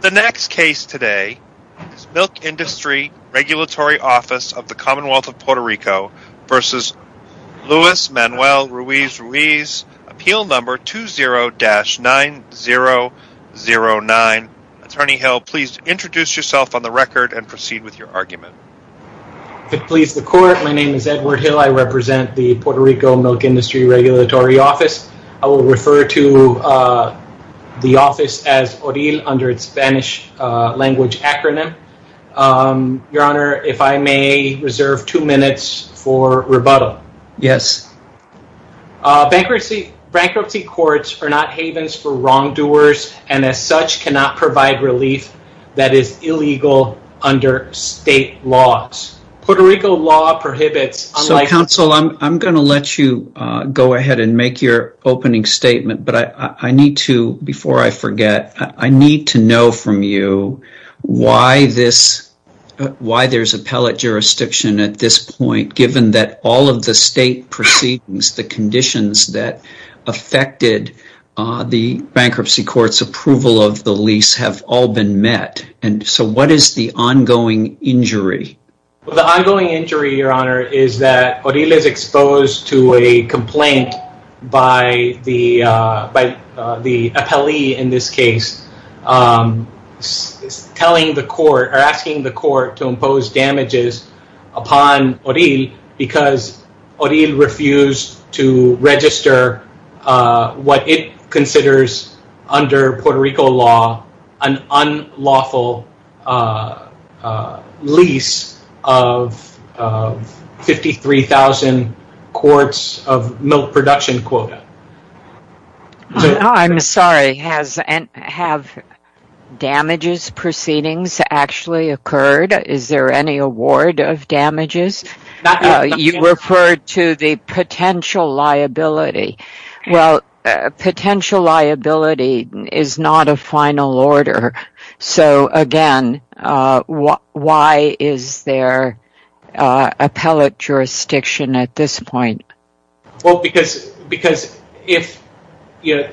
The next case today is Milk Industry Regulatory Office of the Commonwealth of Puerto Rico v. Luis Manuel Ruiz Ruiz, Appeal No. 20-9009. Attorney Hill, please introduce yourself on the record and proceed with your argument. If it pleases the Court, my name is Edward Hill. I represent the Puerto Rico Milk Industry Regulatory Office. I will refer to the office as ORIL under its Spanish language acronym. Your Honor, if I may reserve two minutes for rebuttal. Yes. Bankruptcy courts are not havens for wrongdoers, and as such cannot provide relief that is illegal under state laws. Puerto Rico law prohibits— Counsel, I'm going to let you go ahead and make your opening statement, but before I forget, I need to know from you why there's appellate jurisdiction at this point, given that all of the state proceedings, the conditions that affected the bankruptcy court's approval of the lease, have all been met. What is the ongoing injury? The ongoing injury, Your Honor, is that ORIL is exposed to a complaint by the appellee in this case, asking the court to impose damages upon ORIL because ORIL refused to register what it considers, under Puerto Rico law, an unlawful lease of 53,000 quarts of milk production quota. I'm sorry, have damages proceedings actually occurred? Is there any award of damages? You Well, potential liability is not a final order, so again, why is there appellate jurisdiction at this point? Well, because if you're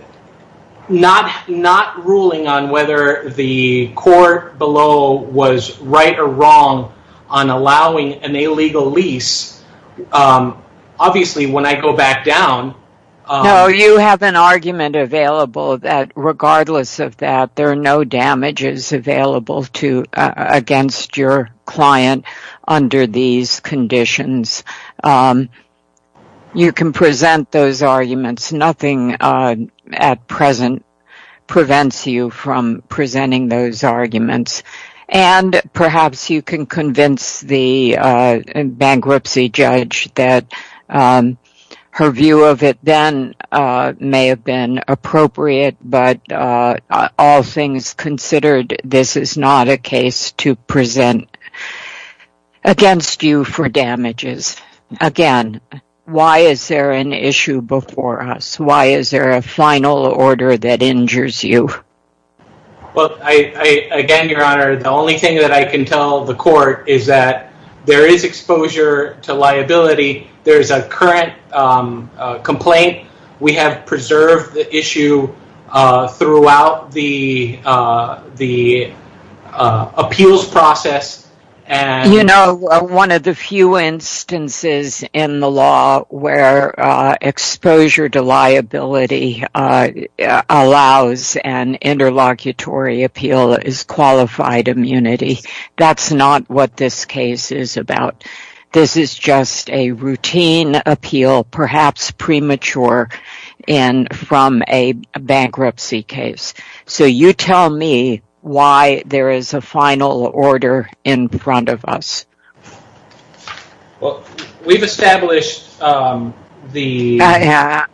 not ruling on whether the court below was right or wrong on allowing an illegal lease, obviously, when I go back down... No, you have an argument available that regardless of that, there are no damages available against your client under these conditions. You can present those arguments. Nothing at present prevents you from presenting those arguments. And perhaps you can convince the bankruptcy judge that her view of it then may have been appropriate, but all things considered, this is not a case to present against you for damages. Again, why is there an issue before us? Why is there a final order that injures you? Well, again, Your Honor, the only thing that I can tell the court is that there is exposure to liability. There's a current complaint. We have preserved the issue throughout the appeals process. You know, one of the few instances in the law where exposure to liability allows an interlocutory appeal is qualified immunity. That's not what this case is about. This is just a routine appeal, perhaps premature, from a bankruptcy case. So you tell me why there is a final order in front of us. Well, we've established the...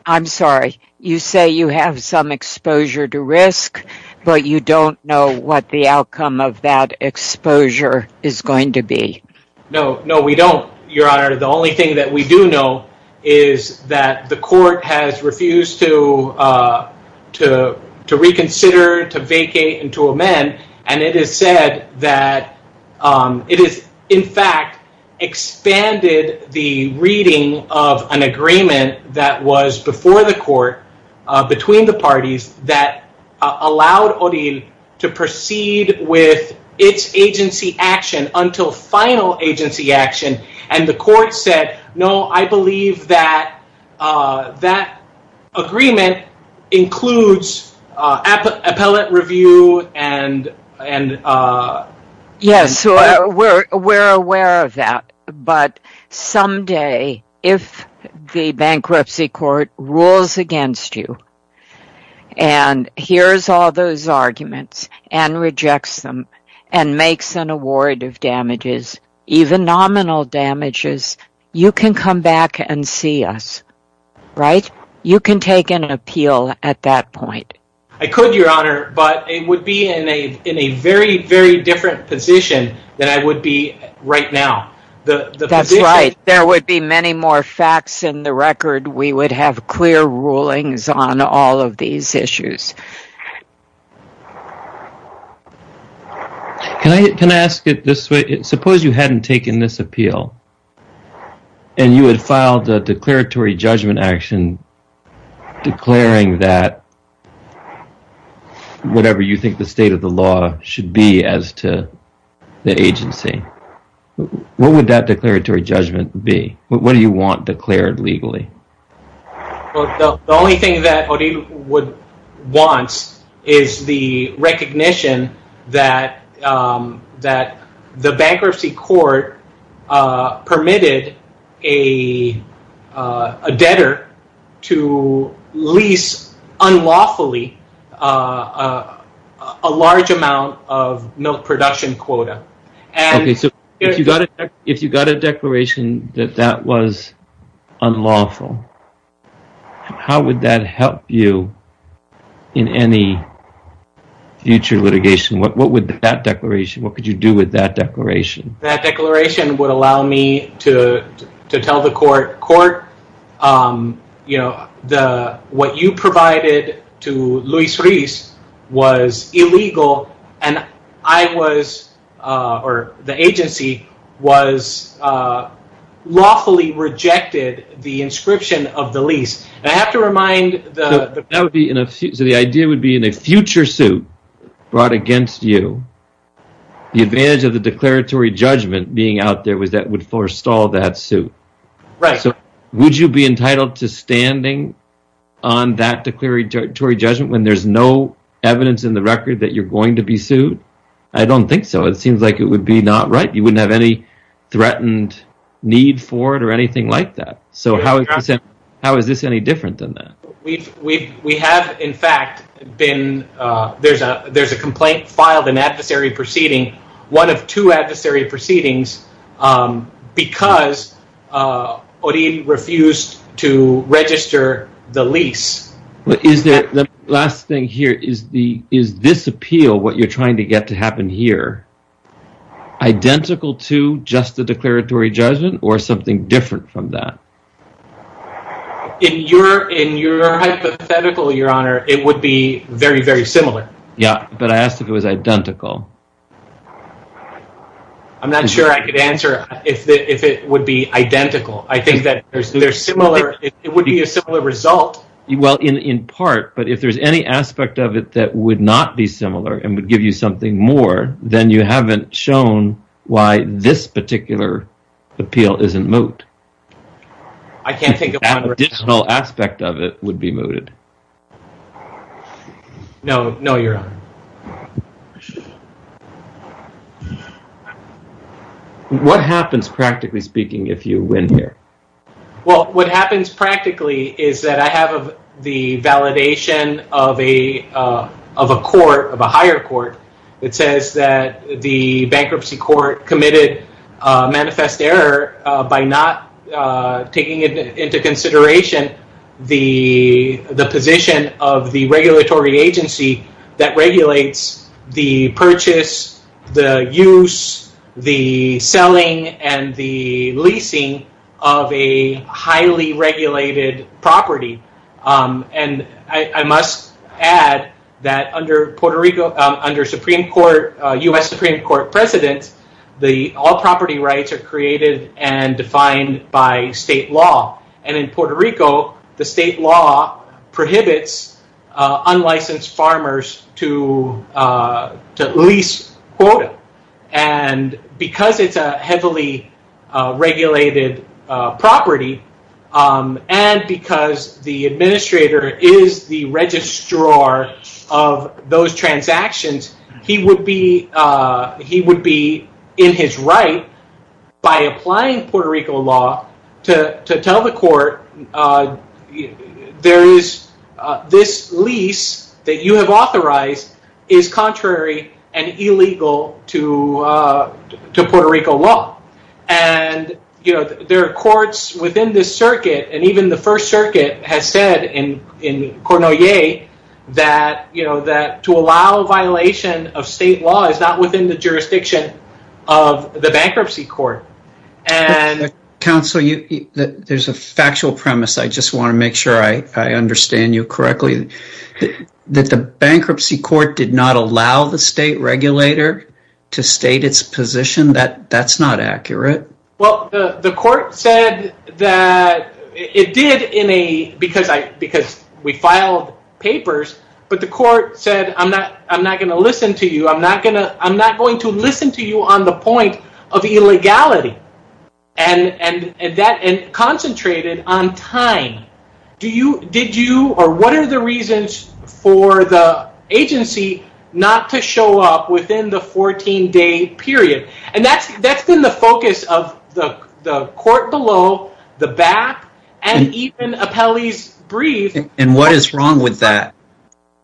I'm sorry. You say you have some exposure to risk, but you don't know what the outcome of that exposure is going to be. No, no, we don't, Your Honor. The only thing that we do know is that the court has refused to reconsider, to vacate, and to amend. And it is said that it has, in fact, expanded the reading of an agreement that was before the court, between the parties, that allowed Odile to proceed with its agency action until final agency action. And the court said, no, I believe that that agreement includes appellate review and... Yes, we're aware of that. But someday, if the bankruptcy court rules against you, and hears all those arguments, and rejects them, and makes an award of damages, even nominal damages, you can come back and see us, right? You can take an appeal at that point. I could, Your Honor, but it would be in a very, very different position than I would be right now. That's right. There would be many more facts in the record. We would have clear rulings on all of these issues. Can I ask it this way? Suppose you hadn't taken this appeal, and you had filed a declaratory judgment action declaring that whatever you think the state of the law should be as to the agency. What would that declaratory judgment be? What do you want declared legally? The only thing that Odile would want is the recognition that the bankruptcy court permitted a debtor to lease unlawfully a large amount of milk production quota. If you got a declaration that that was unlawful, how would that help you in any future litigation? What would that declaration, what could you do with that declaration? That declaration would allow me to tell the court, court, what you provided to Luis Ruiz was illegal, and the agency lawfully rejected the inscription of the lease. The idea would be in a future suit brought against you, the advantage of the declaratory judgment being out there was that it would forestall that suit. Would you be entitled to standing on that declaratory judgment when there's no evidence in the record that you're going to be sued? I don't think so. It seems like it would be not right. You wouldn't have any threatened need for it or anything like that. How is this any different than that? We have, in fact, there's a complaint filed, an adversary proceeding, one of two adversary proceedings, because Odin refused to register the lease. Is this appeal, what you're trying to get to happen here, identical to just the declaratory judgment or something different from that? In your hypothetical, your honor, it would be very, very similar. I asked if it was identical. I'm not sure I could answer if it would be identical. I think that it would be a similar result. Well, in part, but if there's any aspect of it that would not be similar and would give you something more, then you haven't shown why this particular appeal isn't moot. I can't think of one. Additional aspect of it would be mooted. No, your honor. What happens, practically speaking, if you win here? What happens practically is that I have the validation of a court, of a higher court, that says that the bankruptcy court committed manifest error by not taking into consideration the position of the regulatory agency that regulates the purchase, the use, the selling, and the leasing of a highly regulated property. I must add that under U.S. Supreme Court precedent, all property rights are created and defined by state law. In Puerto Rico, the state law prohibits unlicensed farmers to lease quota. Because it's a heavily regulated property and because the administrator is the registrar of those transactions, he would be in his right, by applying Puerto Rico law, to tell the court, this lease that you have authorized is contrary and illegal to Puerto Rico law. There are courts within this circuit, and even the First Circuit has said in Cornelier, that to allow a violation of state law is not within the jurisdiction of the bankruptcy court. Counsel, there's a factual premise. I just want to make sure I understand you correctly. That the bankruptcy court did not allow the state regulator to state its position? That's not accurate. The court said that it did, because we filed papers, but the court said, I'm not going to listen to you. I'm not going to listen to you on the point of illegality, and concentrated on time. What are the reasons for the agency not to show up within the 14-day period? That's been the focus of the court below, the back, and even Apelli's brief. What is wrong with that?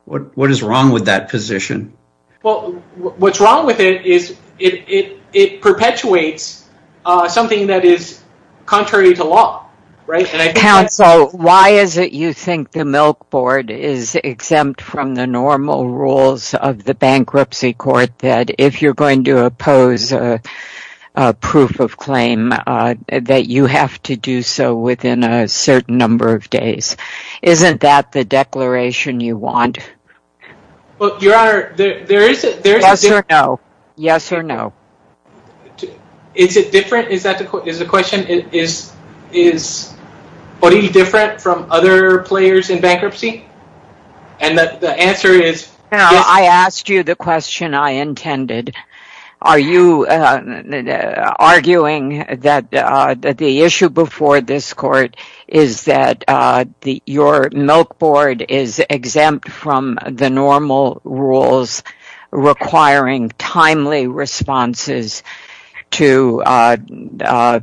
What is wrong with that position? What's wrong with it is it perpetuates something that is contrary to law. Counsel, why is it you think the Milk Board is exempt from the normal rules of the bankruptcy court, that if you're going to oppose a proof of claim, that you have to do so within a certain number of days? Isn't that the declaration you want? Your Honor, there is a... Yes or no? Yes or no? Is it different? Is the question, is Bodhi different from other players in bankruptcy? The answer is... Your Honor, I asked you the question I intended. Are you arguing that the issue before this court is that your Milk Board is exempt from the normal rules requiring timely responses to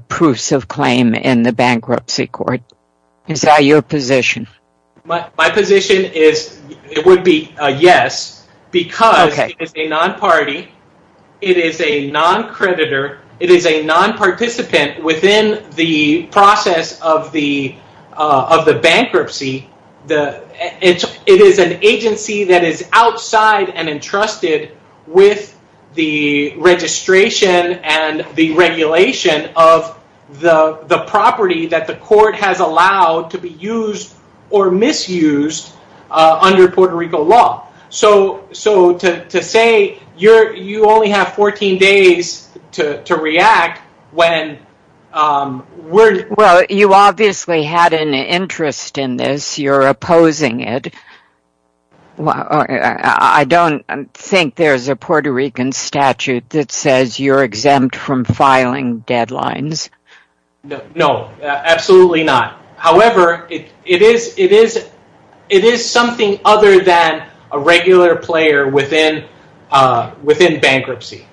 proofs of claim in the bankruptcy court? Is that your position? My position is it would be a yes because it is a non-party. It is a non-creditor. It is a non-participant within the process of the bankruptcy. It is an agency that is outside and entrusted with the registration and the regulation of the property that the court has allowed to be used or misused under Puerto Rico law. So, to say you only have 14 days to react when... Well, you obviously had an interest in this. You're opposing it. I don't think there's a Puerto Rican statute that says you're exempt from filing deadlines. No, absolutely not. However, it is something other than a regular player within bankruptcy.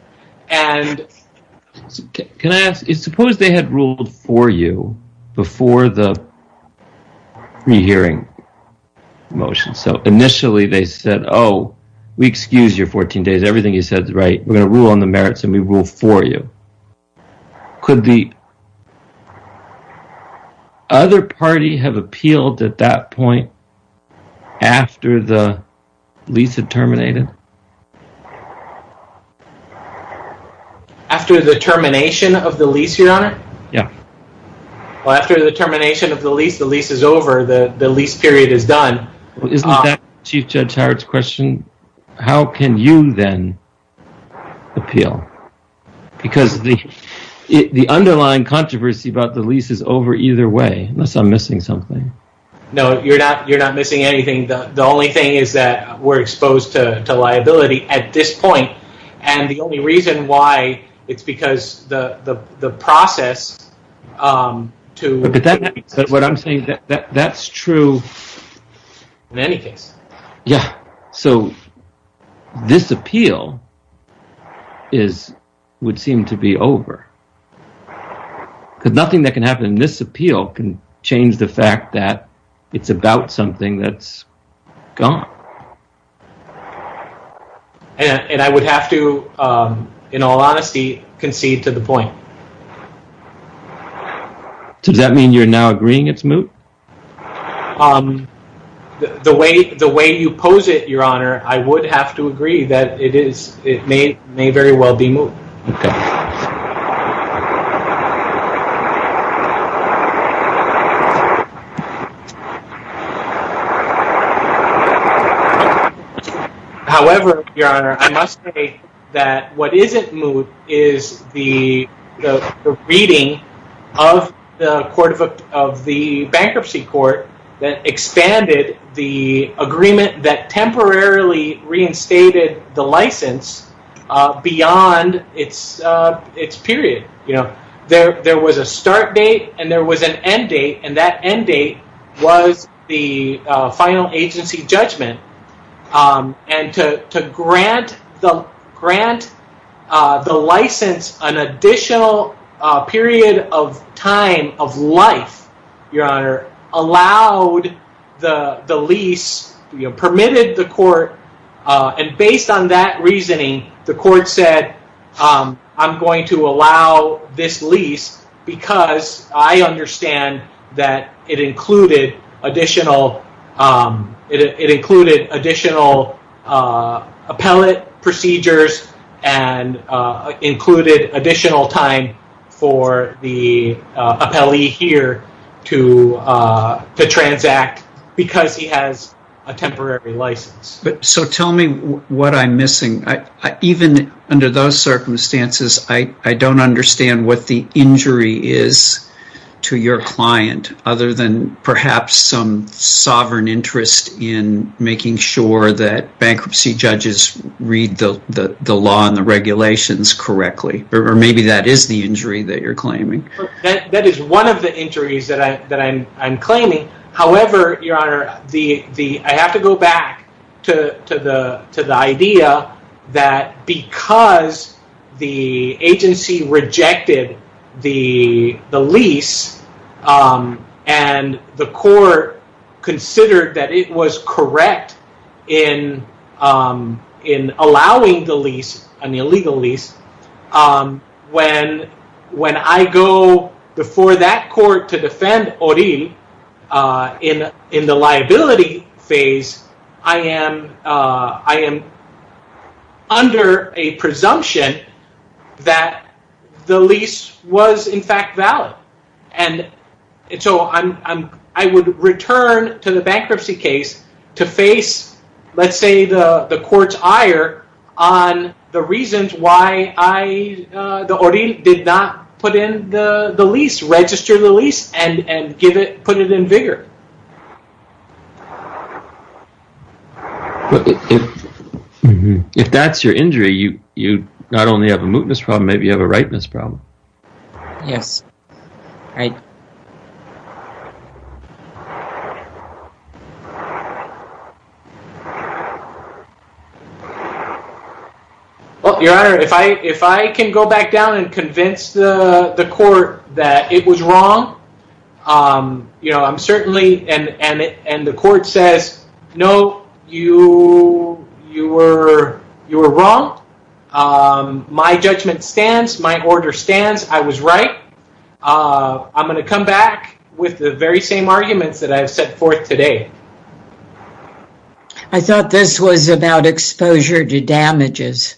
Can I ask, suppose they had ruled for you before the pre-hearing motion. So, initially they said, oh, we excuse your 14 days. Everything you said is right. We're going to rule on the merits and we rule for you. Could the other party have appealed at that point after the lease had terminated? After the termination of the lease, Your Honor? Yeah. Well, after the termination of the lease, the lease is over, the lease period is done. Isn't that Chief Judge Howard's question? How can you then appeal? Because the underlying controversy about the lease is over either way, unless I'm missing something. No, you're not missing anything. The only thing is that we're exposed to liability at this point. And the only reason why it's because the process to… But what I'm saying, that's true. In any case. Yeah. So, this appeal would seem to be over. Because nothing that can happen in this appeal can change the fact that it's about something that's gone. And I would have to, in all honesty, concede to the point. Does that mean you're now agreeing it's moot? The way you pose it, Your Honor, I would have to agree that it may very well be moot. Okay. However, Your Honor, I must say that what isn't moot is the reading of the bankruptcy court that expanded the agreement that temporarily reinstated the license beyond its period. There was a start date and there was an end date, and that end date was the final agency judgment. And to grant the license an additional period of time of life, Your Honor, allowed the lease, permitted the court. And based on that reasoning, the court said, I'm going to allow this lease because I understand that it included additional appellate procedures and included additional time for the appellee here to transact because he has a temporary license. So tell me what I'm missing. Even under those circumstances, I don't understand what the injury is to your client other than perhaps some sovereign interest in making sure that bankruptcy judges read the law and the regulations correctly. Or maybe that is the injury that you're claiming. That is one of the injuries that I'm claiming. However, Your Honor, I have to go back to the idea that because the agency rejected the lease and the court considered that it was correct in allowing the lease, an illegal lease, when I go before that court to defend Oril in the liability phase, I am under a presumption that the lease was in fact valid. And so I would return to the bankruptcy case to face, let's say, the court's ire on the reasons why the Oril did not put in the lease, register the lease, and put it in vigor. If that's your injury, you not only have a mootness problem, maybe you have a rightness problem. Yes. All right. Well, Your Honor, if I can go back down and convince the court that it was wrong. You know, I'm certainly, and the court says, no, you were wrong. My judgment stands. My order stands. I was right. I'm going to come back with the very same arguments that I've set forth today. I thought this was about exposure to damages.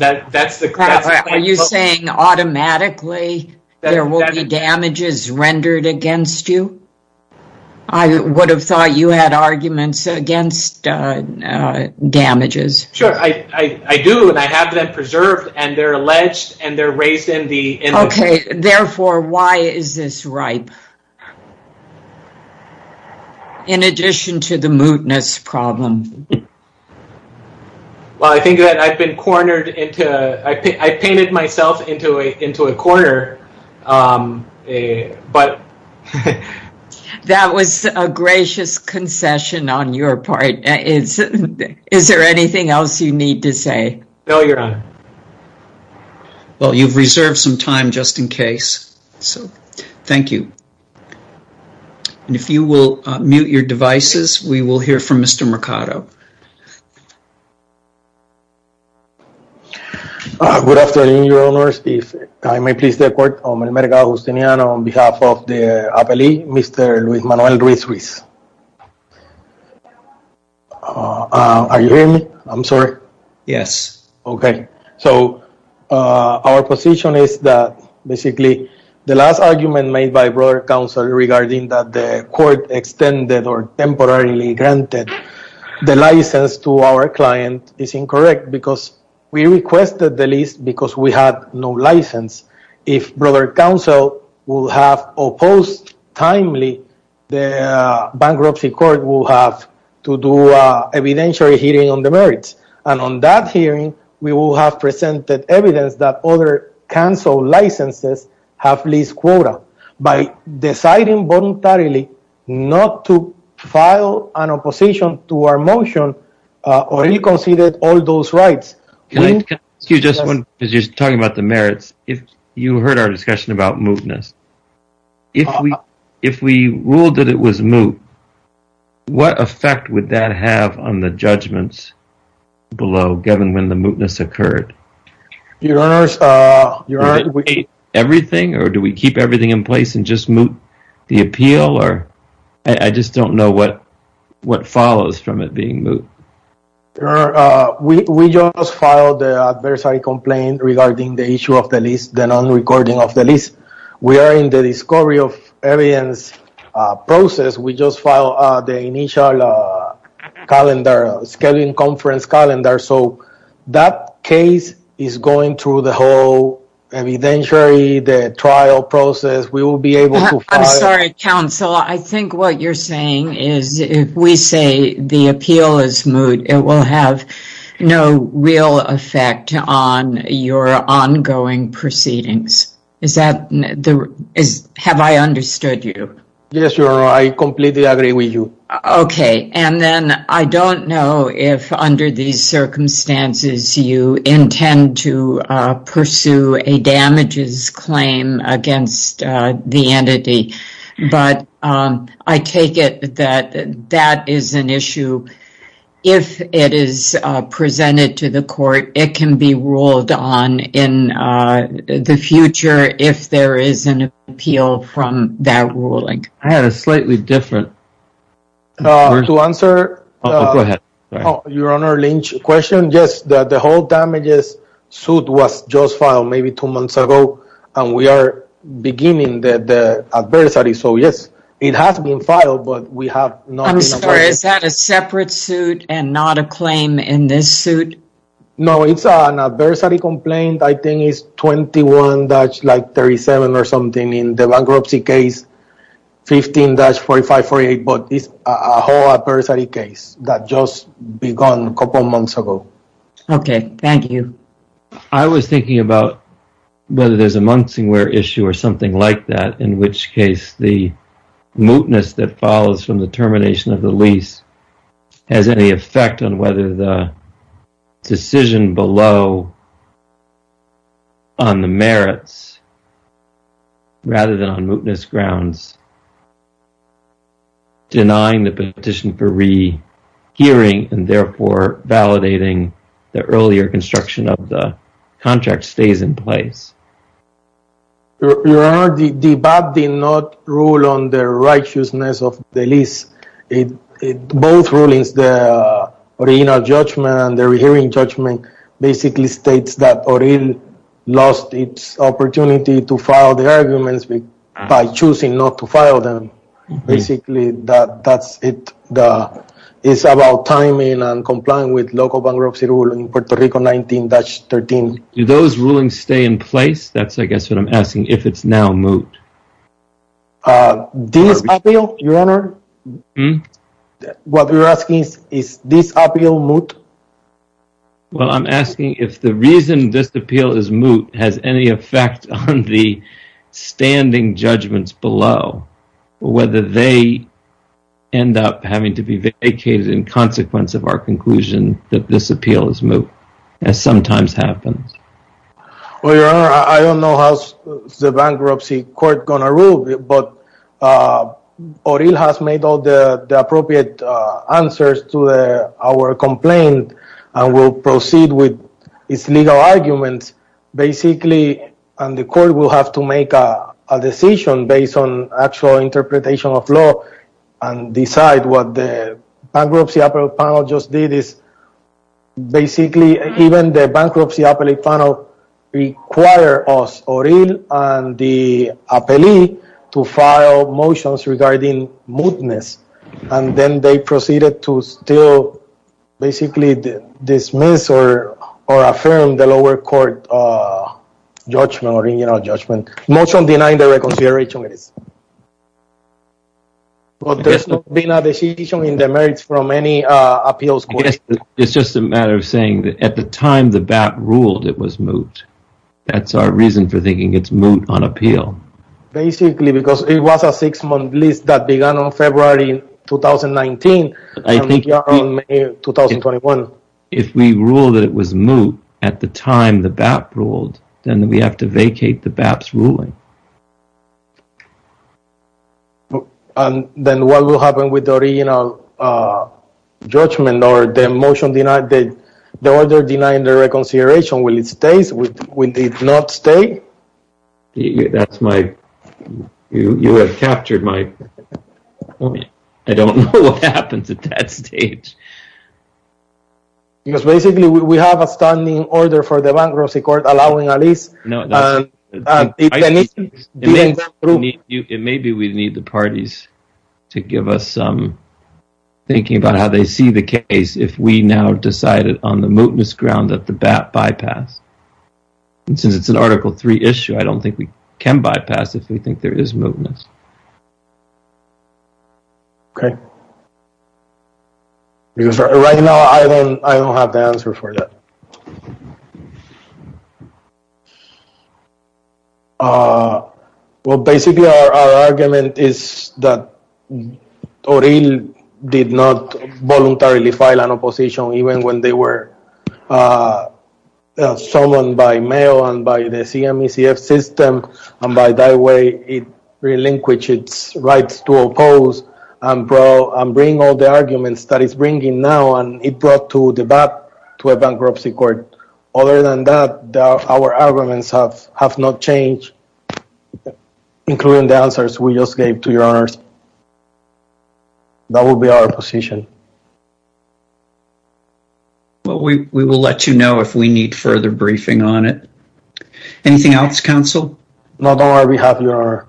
Are you saying automatically there will be damages rendered against you? I would have thought you had arguments against damages. Sure. I do, and I have them preserved, and they're alleged, and they're raised in the. Okay. Therefore, why is this ripe? In addition to the mootness problem. Well, I think that I've been cornered into, I painted myself into a corner, but. That was a gracious concession on your part. Is there anything else you need to say? No, Your Honor. Well, you've reserved some time just in case, so thank you. And if you will mute your devices, we will hear from Mr. Mercado. Thank you. Good afternoon, Your Honors. If I may please the court, on behalf of the appellee, Mr. Luis Manuel Ruiz Ruiz. Are you hearing me? I'm sorry. Yes. Okay. So our position is that basically the last argument made by broader counsel regarding that the court extended or temporarily granted the license to our client is incorrect because we requested the lease because we had no license. If broader counsel will have opposed timely, the bankruptcy court will have to do evidentiary hearing on the merits. And on that hearing, we will have presented evidence that other counsel licenses have leased quota. By deciding voluntarily not to file an opposition to our motion or reconsider all those rights. Can I ask you just one, because you're talking about the merits. If you heard our discussion about mootness, if we ruled that it was moot, what effect would that have on the judgments below, given when the mootness occurred? Your Honors. Do we keep everything in place and just moot the appeal? I just don't know what follows from it being moot. Your Honor, we just filed the adversary complaint regarding the issue of the lease, the non-recording of the lease. We are in the discovery of evidence process. We just filed the initial calendar, scheduling conference calendar. So that case is going through the whole evidentiary, the trial process. We will be able to file. I'm sorry, counsel. I think what you're saying is if we say the appeal is moot, it will have no real effect on your ongoing proceedings. Is that, have I understood you? Yes, Your Honor. I completely agree with you. Okay. And then I don't know if under these circumstances you intend to pursue a damages claim against the entity. But I take it that that is an issue. If it is presented to the court, it can be ruled on in the future if there is an appeal from that ruling. I had a slightly different... To answer Your Honor Lynch's question, yes, the whole damages suit was just filed maybe two months ago. And we are beginning the adversary. So, yes, it has been filed, but we have not... I'm sorry, is that a separate suit and not a claim in this suit? No, it's an adversary complaint. I think it's 21-37 or something in the bankruptcy case, 15-4548. But it's a whole adversary case that just begun a couple months ago. Okay. Thank you. I was thinking about whether there's a mungsingware issue or something like that, in which case the mootness that follows from the termination of the lease has any effect on whether the decision below on the merits rather than on mootness grounds, denying the petition for rehearing and therefore validating the earlier construction of the contract stays in place. Your Honor, the BAP did not rule on the righteousness of the lease. Both rulings, the original judgment and the rehearing judgment, basically states that ORIL lost its opportunity to file the arguments by choosing not to file them. Basically, that's it. It's about timing and complying with local bankruptcy rule in Puerto Rico 19-13. Do those rulings stay in place? That's, I guess, what I'm asking, if it's now moot. This appeal, Your Honor, what we're asking is, is this appeal moot? Well, I'm asking if the reason this appeal is moot has any effect on the standing judgments below, whether they end up having to be vacated in consequence of our conclusion that this appeal is moot, as sometimes happens. Well, Your Honor, I don't know how the bankruptcy court is going to rule, but ORIL has made all the appropriate answers to our complaint and will proceed with its legal arguments. Basically, the court will have to make a decision based on actual interpretation of law and decide what the bankruptcy appellate panel just did. Basically, even the bankruptcy appellate panel required us, ORIL and the appellee, to file motions regarding mootness, and then they proceeded to still basically dismiss or affirm the lower court judgment, original judgment, motion denying the reconsideration. Well, there's not been a decision in the merits from any appeals court. It's just a matter of saying that at the time the BAP ruled, it was moot. That's our reason for thinking it's moot on appeal. Basically, because it was a six-month lease that began on February 2019 and we are on May 2021. If we rule that it was moot at the time the BAP ruled, then we have to vacate the BAP's ruling. Then what will happen with the original judgment or the motion denying the reconsideration? Will it stay? Will it not stay? You have captured my point. I don't know what happens at that stage. Because basically we have a standing order for the bankruptcy court allowing a lease. Maybe we need the parties to give us some thinking about how they see the case if we now decided on the mootness ground that the BAP bypassed. Since it's an Article 3 issue, I don't think we can bypass if we think there is mootness. Okay. Right now, I don't have the answer for that. Basically, our argument is that ORIL did not voluntarily file an opposition even when they were summoned by mail and by the CMECF system. By that way, it relinquished its rights to oppose and bring all the arguments that it's bringing now. It brought the BAP to a bankruptcy court. Other than that, our arguments have not changed, including the answers we just gave to your honors. That will be our position. We will let you know if we need further briefing on it. Anything else, counsel? Not on our behalf, your honor.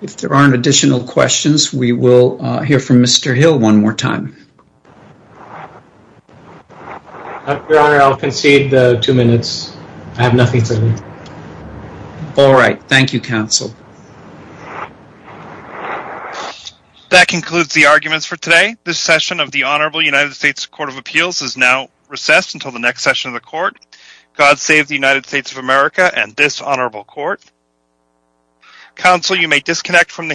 If there aren't additional questions, we will hear from Mr. Hill one more time. Your honor, I'll concede two minutes. I have nothing to add. All right. Thank you, counsel. That concludes the arguments for today. This session of the Honorable United States Court of Appeals is now recessed until the next session of the court. God save the United States of America and this honorable court. Counsel, you may disconnect from the hearing.